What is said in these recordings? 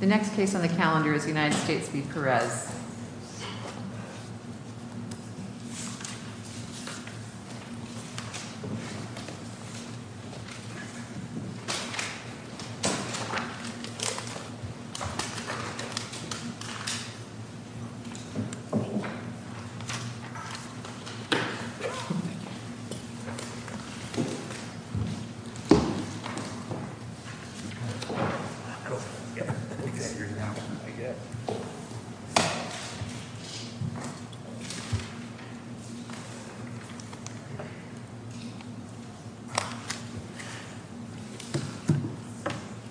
The next case on the calendar is United States v. Perez.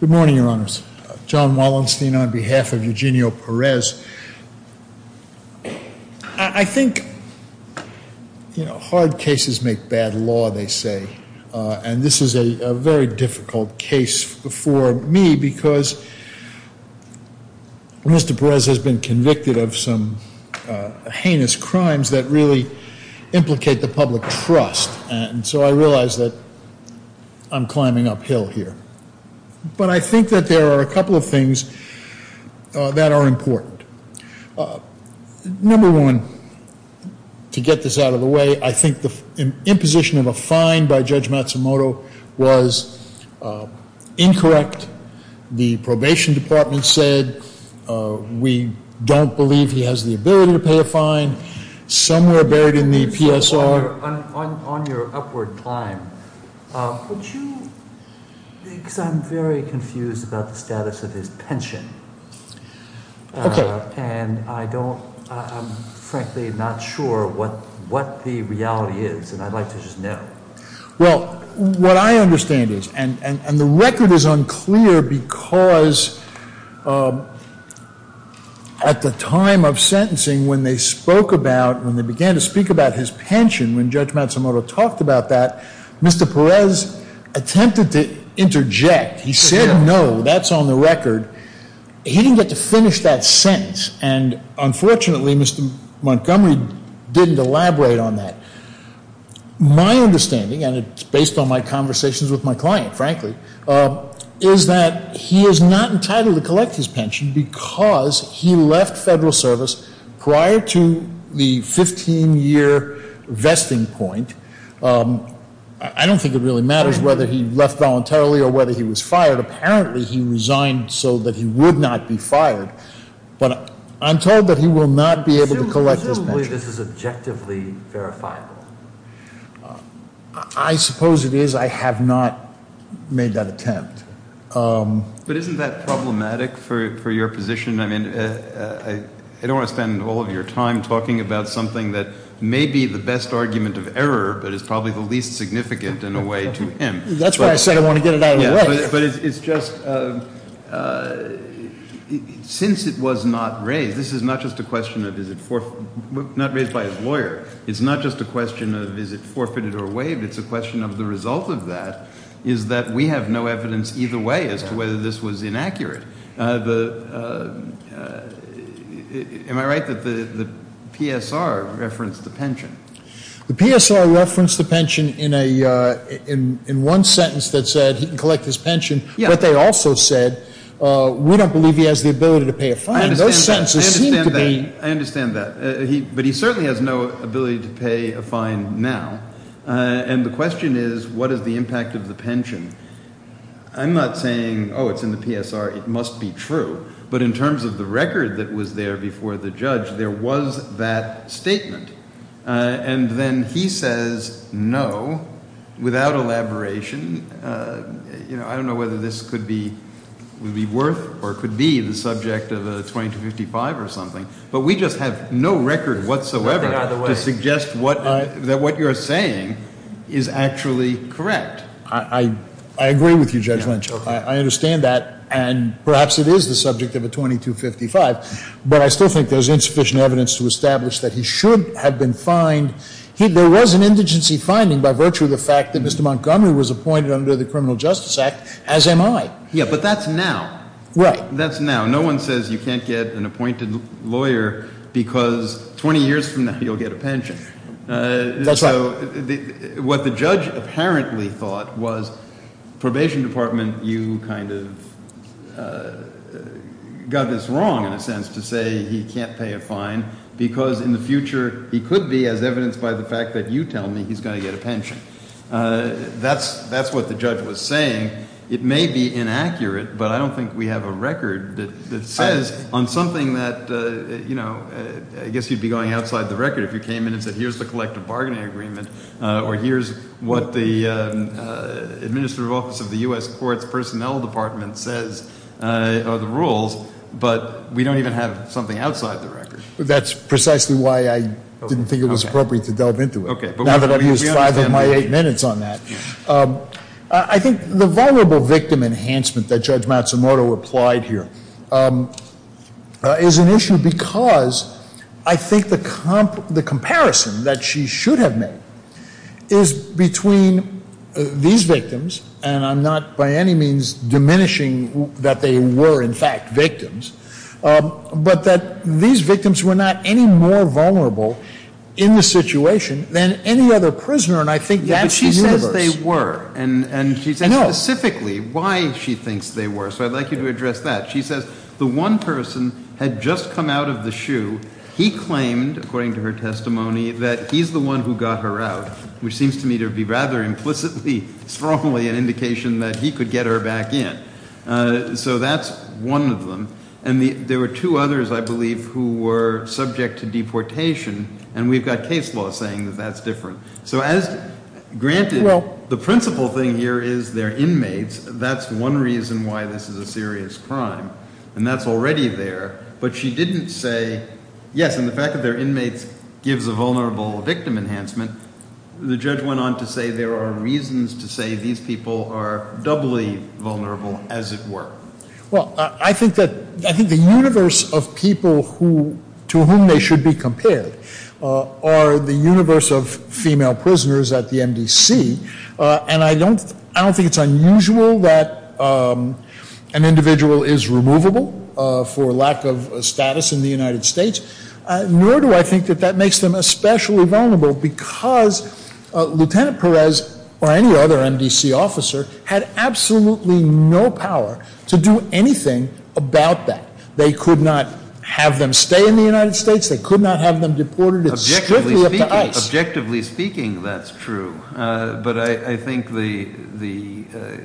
Good morning, your honors. John Wallenstein on behalf of Eugenio Perez. I think hard cases make bad law, they say. And this is a very difficult case for me because Mr. Perez has been convicted of some heinous crimes that really implicate the public trust. And so I realize that I'm climbing uphill here. But I think that there are a couple of things that are important. Number one, to get this out of the way, I think the imposition of a fine by Judge Matsumoto was incorrect. The probation department said we don't believe he has the ability to pay a fine. Somewhere buried in the PSR. On your upward climb, would you – because I'm very confused about the status of his pension. Okay. And I don't – I'm frankly not sure what the reality is. And I'd like to just know. Well, what I understand is – and the record is unclear because at the time of sentencing, when they spoke about – when they began to speak about his pension, when Judge Matsumoto talked about that, Mr. Perez attempted to interject. He said no. That's on the record. He didn't get to finish that sentence. And unfortunately, Mr. Montgomery didn't elaborate on that. My understanding – and it's based on my conversations with my client, frankly – is that he is not entitled to collect his pension because he left federal service prior to the 15-year vesting point. I don't think it really matters whether he left voluntarily or whether he was fired. Apparently, he resigned so that he would not be fired. But I'm told that he will not be able to collect his pension. Presumably, this is objectively verifiable. I suppose it is. I have not made that attempt. But isn't that problematic for your position? I don't want to spend all of your time talking about something that may be the best argument of error but is probably the least significant in a way to him. That's why I said I want to get it out of the way. But it's just – since it was not raised – this is not just a question of is it – not raised by his lawyer. It's not just a question of is it forfeited or waived. It's a question of the result of that is that we have no evidence either way as to whether this was inaccurate. Am I right that the PSR referenced the pension? The PSR referenced the pension in one sentence that said he can collect his pension. But they also said we don't believe he has the ability to pay a fine. Those sentences seem to be – I understand that. I understand that. But he certainly has no ability to pay a fine now. And the question is what is the impact of the pension? I'm not saying, oh, it's in the PSR. It must be true. But in terms of the record that was there before the judge, there was that statement. And then he says no, without elaboration. I don't know whether this could be – would be worth or could be the subject of a 2255 or something. But we just have no record whatsoever to suggest what – that what you're saying is actually correct. I agree with you, Judge Lynch. I understand that. And perhaps it is the subject of a 2255. But I still think there's insufficient evidence to establish that he should have been fined. There was an indigency finding by virtue of the fact that Mr. Montgomery was appointed under the Criminal Justice Act, as am I. Yeah, but that's now. Right. That's now. No one says you can't get an appointed lawyer because 20 years from now you'll get a pension. That's right. So what the judge apparently thought was probation department, you kind of got this wrong in a sense to say he can't pay a fine because in the future he could be, as evidenced by the fact that you tell me, he's going to get a pension. That's what the judge was saying. It may be inaccurate, but I don't think we have a record that says on something that – I guess you'd be going outside the record if you came in and said, here's the collective bargaining agreement, or here's what the administrative office of the U.S. Courts Personnel Department says are the rules, but we don't even have something outside the record. That's precisely why I didn't think it was appropriate to delve into it. Okay. Now that I've used five of my eight minutes on that. I think the vulnerable victim enhancement that Judge Matsumoto applied here is an issue because I think the comparison that she should have made is between these victims, and I'm not by any means diminishing that they were, in fact, victims, but that these victims were not any more vulnerable in this situation than any other prisoner, and I think that's the universe. They were, and she said specifically why she thinks they were, so I'd like you to address that. She says the one person had just come out of the shoe. He claimed, according to her testimony, that he's the one who got her out, which seems to me to be rather implicitly, strongly an indication that he could get her back in. So that's one of them, and there were two others, I believe, who were subject to deportation, and we've got case law saying that that's different. So as, granted, the principal thing here is they're inmates. That's one reason why this is a serious crime, and that's already there, but she didn't say, yes, and the fact that they're inmates gives a vulnerable victim enhancement. The judge went on to say there are reasons to say these people are doubly vulnerable, as it were. Well, I think the universe of people to whom they should be compared are the universe of female prisoners at the MDC, and I don't think it's unusual that an individual is removable for lack of status in the United States, nor do I think that that makes them especially vulnerable because Lieutenant Perez or any other MDC officer had absolutely no power to do anything about that. They could not have them stay in the United States. They could not have them deported strictly up to ICE. Objectively speaking, that's true, but I think the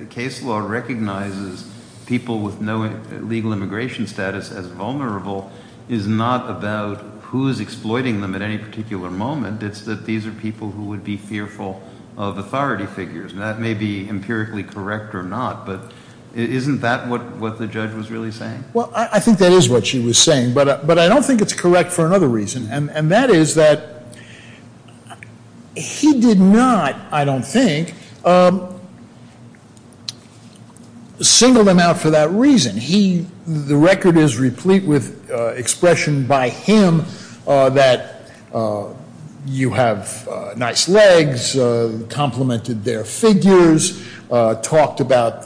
case law recognizes people with no legal immigration status as vulnerable is not about who is exploiting them at any particular moment. It's that these are people who would be fearful of authority figures, and that may be empirically correct or not, but isn't that what the judge was really saying? Well, I think that is what she was saying, but I don't think it's correct for another reason, and that is that he did not, I don't think, single them out for that reason. The record is replete with expression by him that you have nice legs, complimented their figures, talked about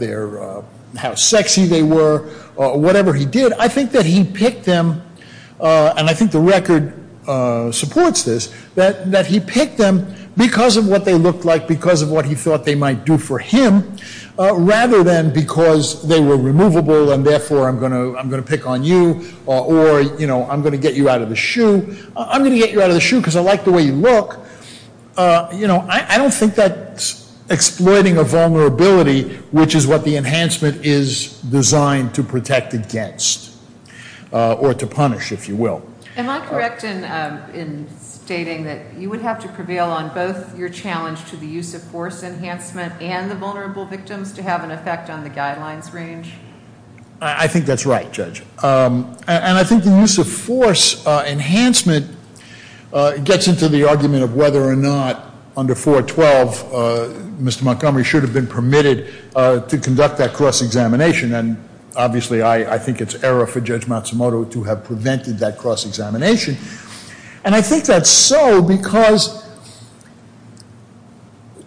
how sexy they were, whatever he did. I think that he picked them, and I think the record supports this, that he picked them because of what they looked like, because of what he thought they might do for him, rather than because they were removable and therefore I'm going to pick on you, or I'm going to get you out of the shoe. I'm going to get you out of the shoe because I like the way you look. I don't think that's exploiting a vulnerability, which is what the enhancement is designed to protect against, or to punish, if you will. Am I correct in stating that you would have to prevail on both your challenge to the use of force enhancement and the vulnerable victims to have an effect on the guidelines range? I think that's right, Judge. And I think the use of force enhancement gets into the argument of whether or not under 412, Mr. Montgomery should have been permitted to conduct that cross-examination, and obviously I think it's error for Judge Matsumoto to have prevented that cross-examination. And I think that's so because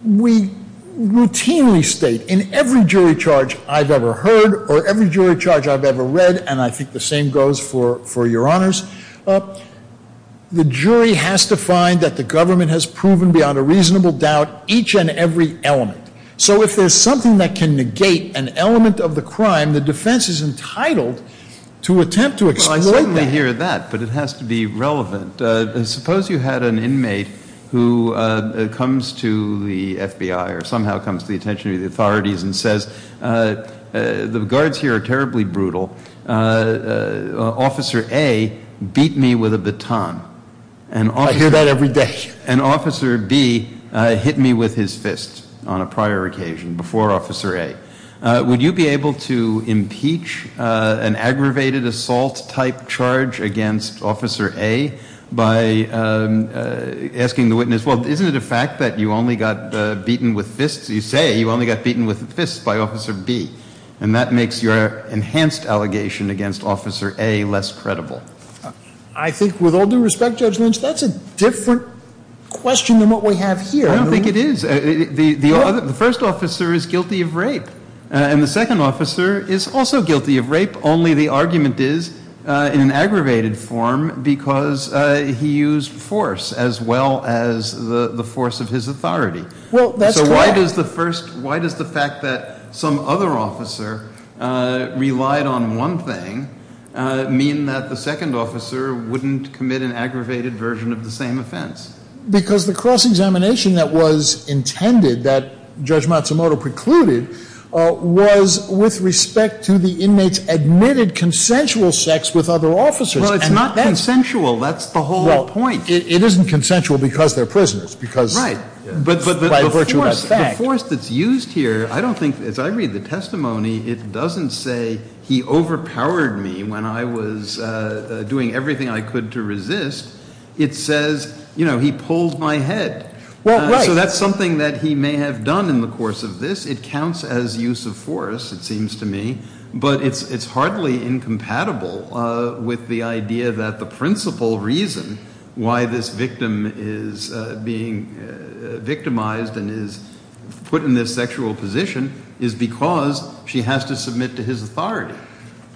we routinely state in every jury charge I've ever heard, or every jury charge I've ever read, and I think the same goes for your honors, the jury has to find that the government has proven beyond a reasonable doubt each and every element. So if there's something that can negate an element of the crime, the defense is entitled to attempt to exploit that. I hear that, but it has to be relevant. Suppose you had an inmate who comes to the FBI or somehow comes to the attention of the authorities and says, the guards here are terribly brutal. Officer A beat me with a baton. I hear that every day. And Officer B hit me with his fist on a prior occasion before Officer A. Would you be able to impeach an aggravated assault-type charge against Officer A by asking the witness, well, isn't it a fact that you only got beaten with fists? You say you only got beaten with fists by Officer B. And that makes your enhanced allegation against Officer A less credible. I think with all due respect, Judge Lynch, that's a different question than what we have here. I don't think it is. The first officer is guilty of rape, and the second officer is also guilty of rape, only the argument is in an aggravated form because he used force as well as the force of his authority. So why does the fact that some other officer relied on one thing mean that the second officer wouldn't commit an aggravated version of the same offense? Because the cross-examination that was intended, that Judge Matsumoto precluded, was with respect to the inmates' admitted consensual sex with other officers. Well, it's not consensual. That's the whole point. Well, it isn't consensual because they're prisoners. Right. By virtue of that fact. But the force that's used here, I don't think, as I read the testimony, it says, you know, he pulled my head. Well, right. So that's something that he may have done in the course of this. It counts as use of force, it seems to me. But it's hardly incompatible with the idea that the principal reason why this victim is being victimized and is put in this sexual position is because she has to submit to his authority.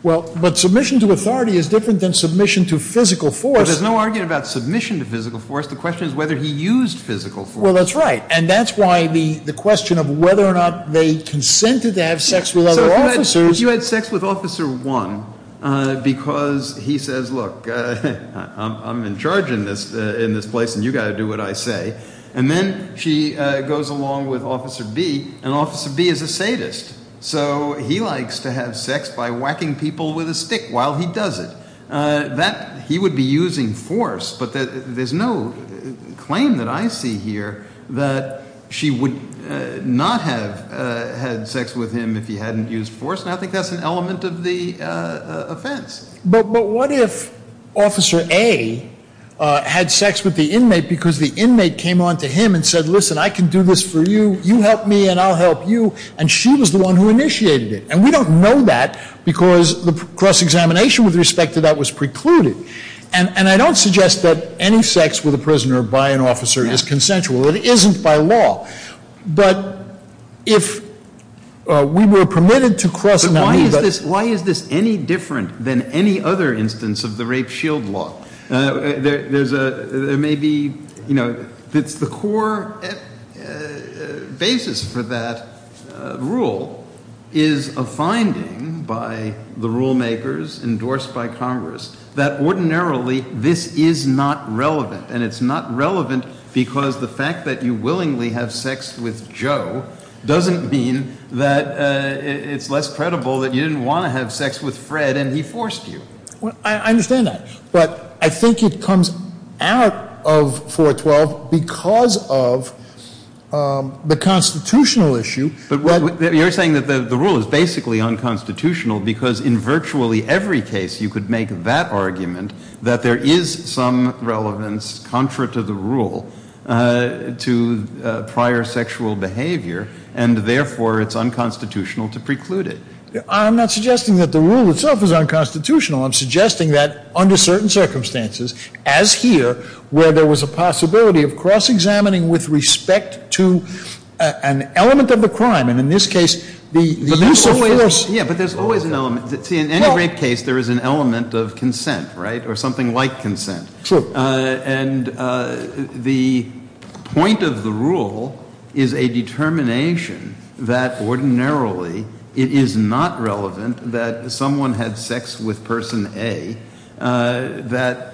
Well, but submission to authority is different than submission to physical force. Well, there's no argument about submission to physical force. The question is whether he used physical force. Well, that's right. And that's why the question of whether or not they consented to have sex with other officers. So if you had sex with Officer 1 because he says, look, I'm in charge in this place and you've got to do what I say, and then she goes along with Officer B, and Officer B is a sadist. So he likes to have sex by whacking people with a stick while he does it. He would be using force. But there's no claim that I see here that she would not have had sex with him if he hadn't used force. And I think that's an element of the offense. But what if Officer A had sex with the inmate because the inmate came on to him and said, listen, I can do this for you. You help me and I'll help you. And she was the one who initiated it. And we don't know that because the cross-examination with respect to that was precluded. And I don't suggest that any sex with a prisoner by an officer is consensual. It isn't by law. But if we were permitted to cross-examine that. But why is this any different than any other instance of the rape shield law? There may be, you know, it's the core basis for that rule is a finding by the rule makers endorsed by Congress that ordinarily this is not relevant. And it's not relevant because the fact that you willingly have sex with Joe doesn't mean that it's less credible that you didn't want to have sex with Fred and he forced you. I understand that. But I think it comes out of 412 because of the constitutional issue. But you're saying that the rule is basically unconstitutional because in virtually every case you could make that argument that there is some relevance, contrary to the rule, to prior sexual behavior, and therefore it's unconstitutional to preclude it. I'm not suggesting that the rule itself is unconstitutional. I'm suggesting that under certain circumstances, as here, where there was a possibility of cross-examining with respect to an element of the crime, and in this case the use of force. Yeah, but there's always an element. See, in any rape case there is an element of consent, right, or something like consent. True. And the point of the rule is a determination that ordinarily it is not relevant that someone had sex with person A, that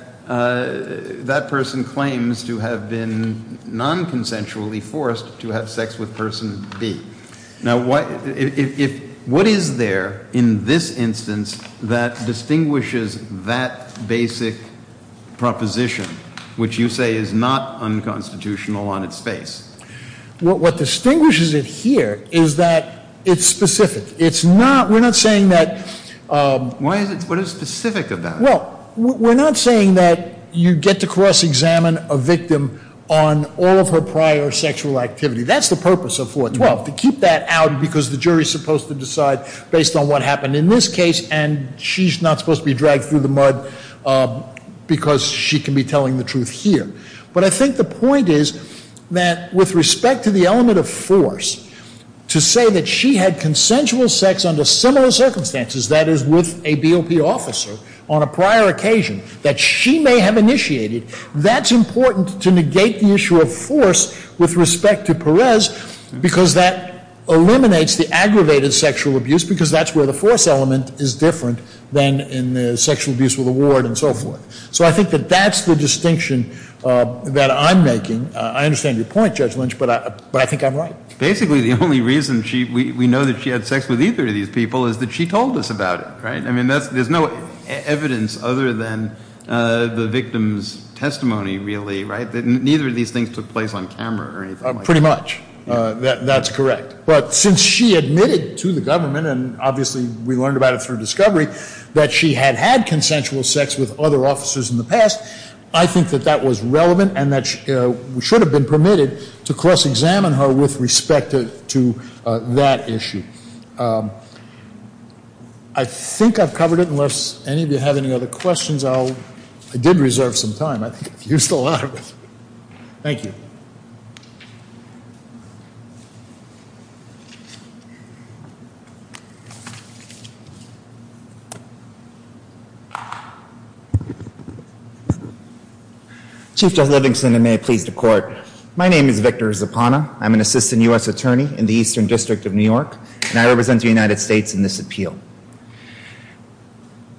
that person claims to have been non-consensually forced to have sex with person B. Now, what is there in this instance that distinguishes that basic proposition, which you say is not unconstitutional on its face? What distinguishes it here is that it's specific. It's not, we're not saying that. Why is it, what is specific about it? Well, we're not saying that you get to cross-examine a victim on all of her prior sexual activity. That's the purpose of 412, to keep that out because the jury is supposed to decide based on what happened in this case, and she's not supposed to be dragged through the mud because she can be telling the truth here. But I think the point is that with respect to the element of force, to say that she had consensual sex under similar circumstances, that is, with a BOP officer on a prior occasion that she may have initiated, that's important to negate the issue of force with respect to Perez because that eliminates the aggravated sexual abuse because that's where the force element is different than in the sexual abuse with a ward and so forth. So I think that that's the distinction that I'm making. I understand your point, Judge Lynch, but I think I'm right. Basically, the only reason we know that she had sex with either of these people is that she told us about it, right? I mean, there's no evidence other than the victim's testimony, really, right? Neither of these things took place on camera or anything like that. Pretty much. That's correct. But since she admitted to the government, and obviously we learned about it through discovery, that she had had consensual sex with other officers in the past, I think that that was relevant and that we should have been permitted to cross-examine her with respect to that issue. I think I've covered it. Unless any of you have any other questions, I did reserve some time. I think I've used a lot of it. Thank you. Chief Judge Livingston, and may it please the Court. My name is Victor Zapana. I'm an assistant U.S. attorney in the Eastern District of New York, and I represent the United States in this appeal.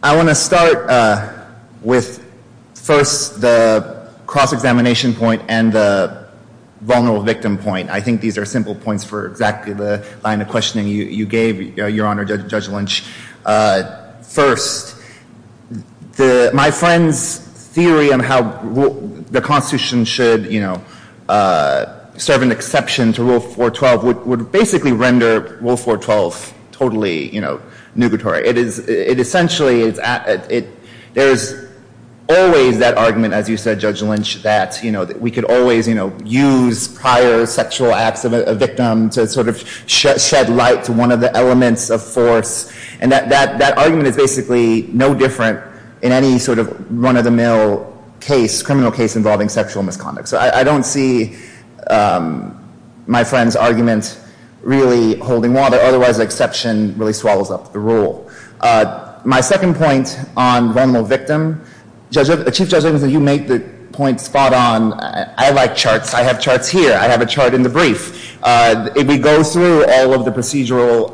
I want to start with, first, the cross-examination point and the vulnerable victim point. I think these are simple points for exactly the line of questioning you gave, Your Honor, Judge Lynch. First, my friend's theory on how the Constitution should serve an exception to Rule 412 would basically render Rule 412 totally nugatory. Essentially, there's always that argument, as you said, Judge Lynch, that we could always use prior sexual acts of a victim to shed light to one of the elements of force. That argument is basically no different in any run-of-the-mill criminal case involving sexual misconduct. So I don't see my friend's argument really holding water. Otherwise, the exception really swallows up the rule. My second point on vulnerable victim. Chief Judge Livingston, you make the point spot on. I like charts. I have charts here. I have a chart in the brief. If we go through all of the procedural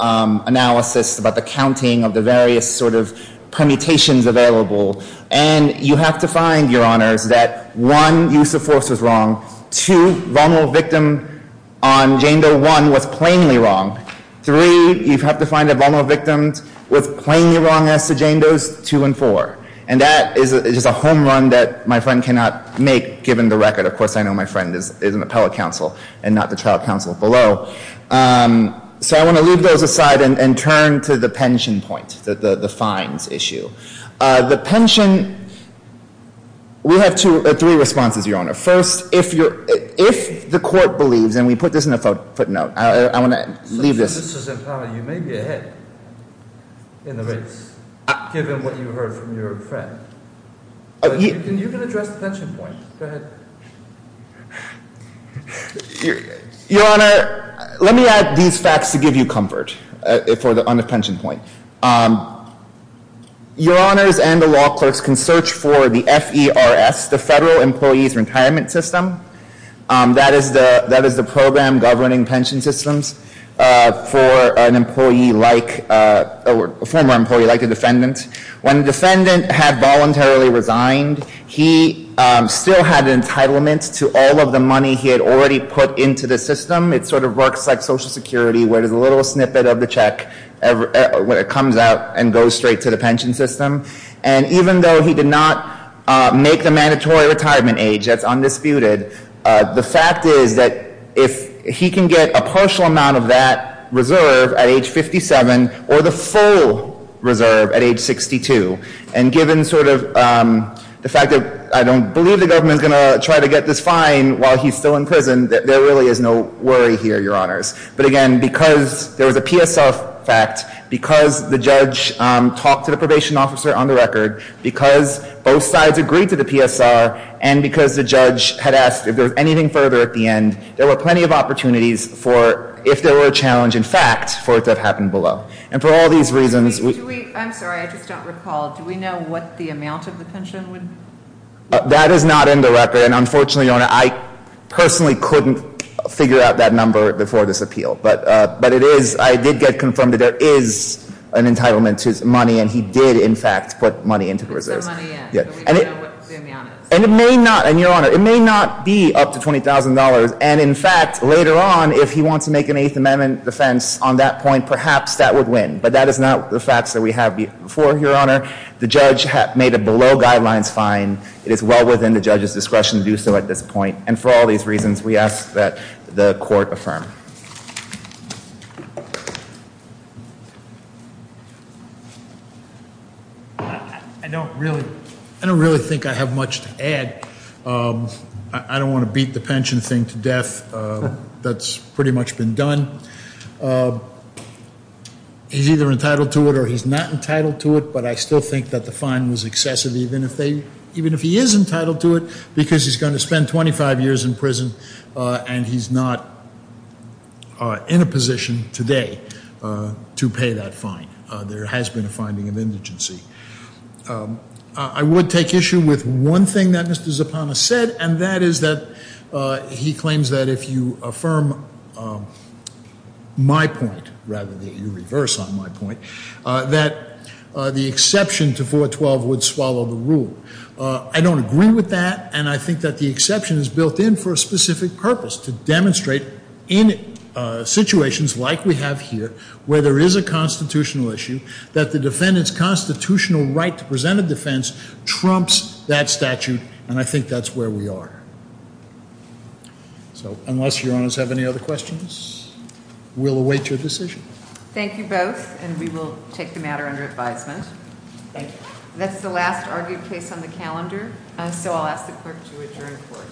analysis about the counting of the various sort of permutations available, and you have to find, Your Honors, that one, use of force was wrong. Two, vulnerable victim on Jane Doe 1 was plainly wrong. Three, you have to find that vulnerable victims was plainly wrong as to Jane Doe's 2 and 4. And that is just a home run that my friend cannot make, given the record. Of course, I know my friend is an appellate counsel and not the trial counsel below. So I want to leave those aside and turn to the pension point, the fines issue. The pension, we have three responses, Your Honor. First, if the court believes, and we put this in the footnote. I want to leave this. You may be ahead in the race, given what you heard from your friend. You can address the pension point. Go ahead. Your Honor, let me add these facts to give you comfort on the pension point. Your Honors and the law clerks can search for the FERS, the Federal Employees Retirement System. That is the program governing pension systems for a former employee, like a defendant. When the defendant had voluntarily resigned, he still had entitlement to all of the money he had already put into the system. It sort of works like Social Security, where there's a little snippet of the check when it comes out and goes straight to the pension system. And even though he did not make the mandatory retirement age, that's undisputed, the fact is that if he can get a partial amount of that reserve at age 57 or the full reserve at age 62, and given sort of the fact that I don't believe the government is going to try to get this fine while he's still in prison, there really is no worry here, Your Honors. But again, because there was a PSR fact, because the judge talked to the probation officer on the record, because both sides agreed to the PSR, and because the judge had asked if there was anything further at the end, there were plenty of opportunities for, if there were a challenge, in fact, for it to have happened below. And for all these reasons, we... I'm sorry, I just don't recall. Do we know what the amount of the pension would be? That is not in the record. And unfortunately, Your Honor, I personally couldn't figure out that number before this appeal. But it is, I did get confirmed that there is an entitlement to money, and he did, in fact, put money into the reserves. And it may not, and Your Honor, it may not be up to $20,000. And in fact, later on, if he wants to make an Eighth Amendment defense on that point, perhaps that would win. But that is not the facts that we have before, Your Honor. The judge made a below guidelines fine. It is well within the judge's discretion to do so at this point. And for all these reasons, we ask that the court affirm. I don't really think I have much to add. I don't want to beat the pension thing to death. That's pretty much been done. He's either entitled to it or he's not entitled to it. But I still think that the fine was excessive, even if he is entitled to it, because he's going to spend 25 years in prison and he's not in a position today to pay that fine. There has been a finding of indigency. I would take issue with one thing that Mr. Zapana said, and that is that he claims that if you affirm my point, rather than you reverse on my point, that the exception to 412 would swallow the rule. I don't agree with that. And I think that the exception is built in for a specific purpose, to demonstrate in situations like we have here, where there is a constitutional issue, that the defendant's constitutional right to present a defense trumps that statute. And I think that's where we are. So, unless Your Honors have any other questions, we'll await your decision. Thank you both, and we will take the matter under advisement. Thank you. That's the last argued case on the calendar, so I'll ask the clerk to adjourn the court.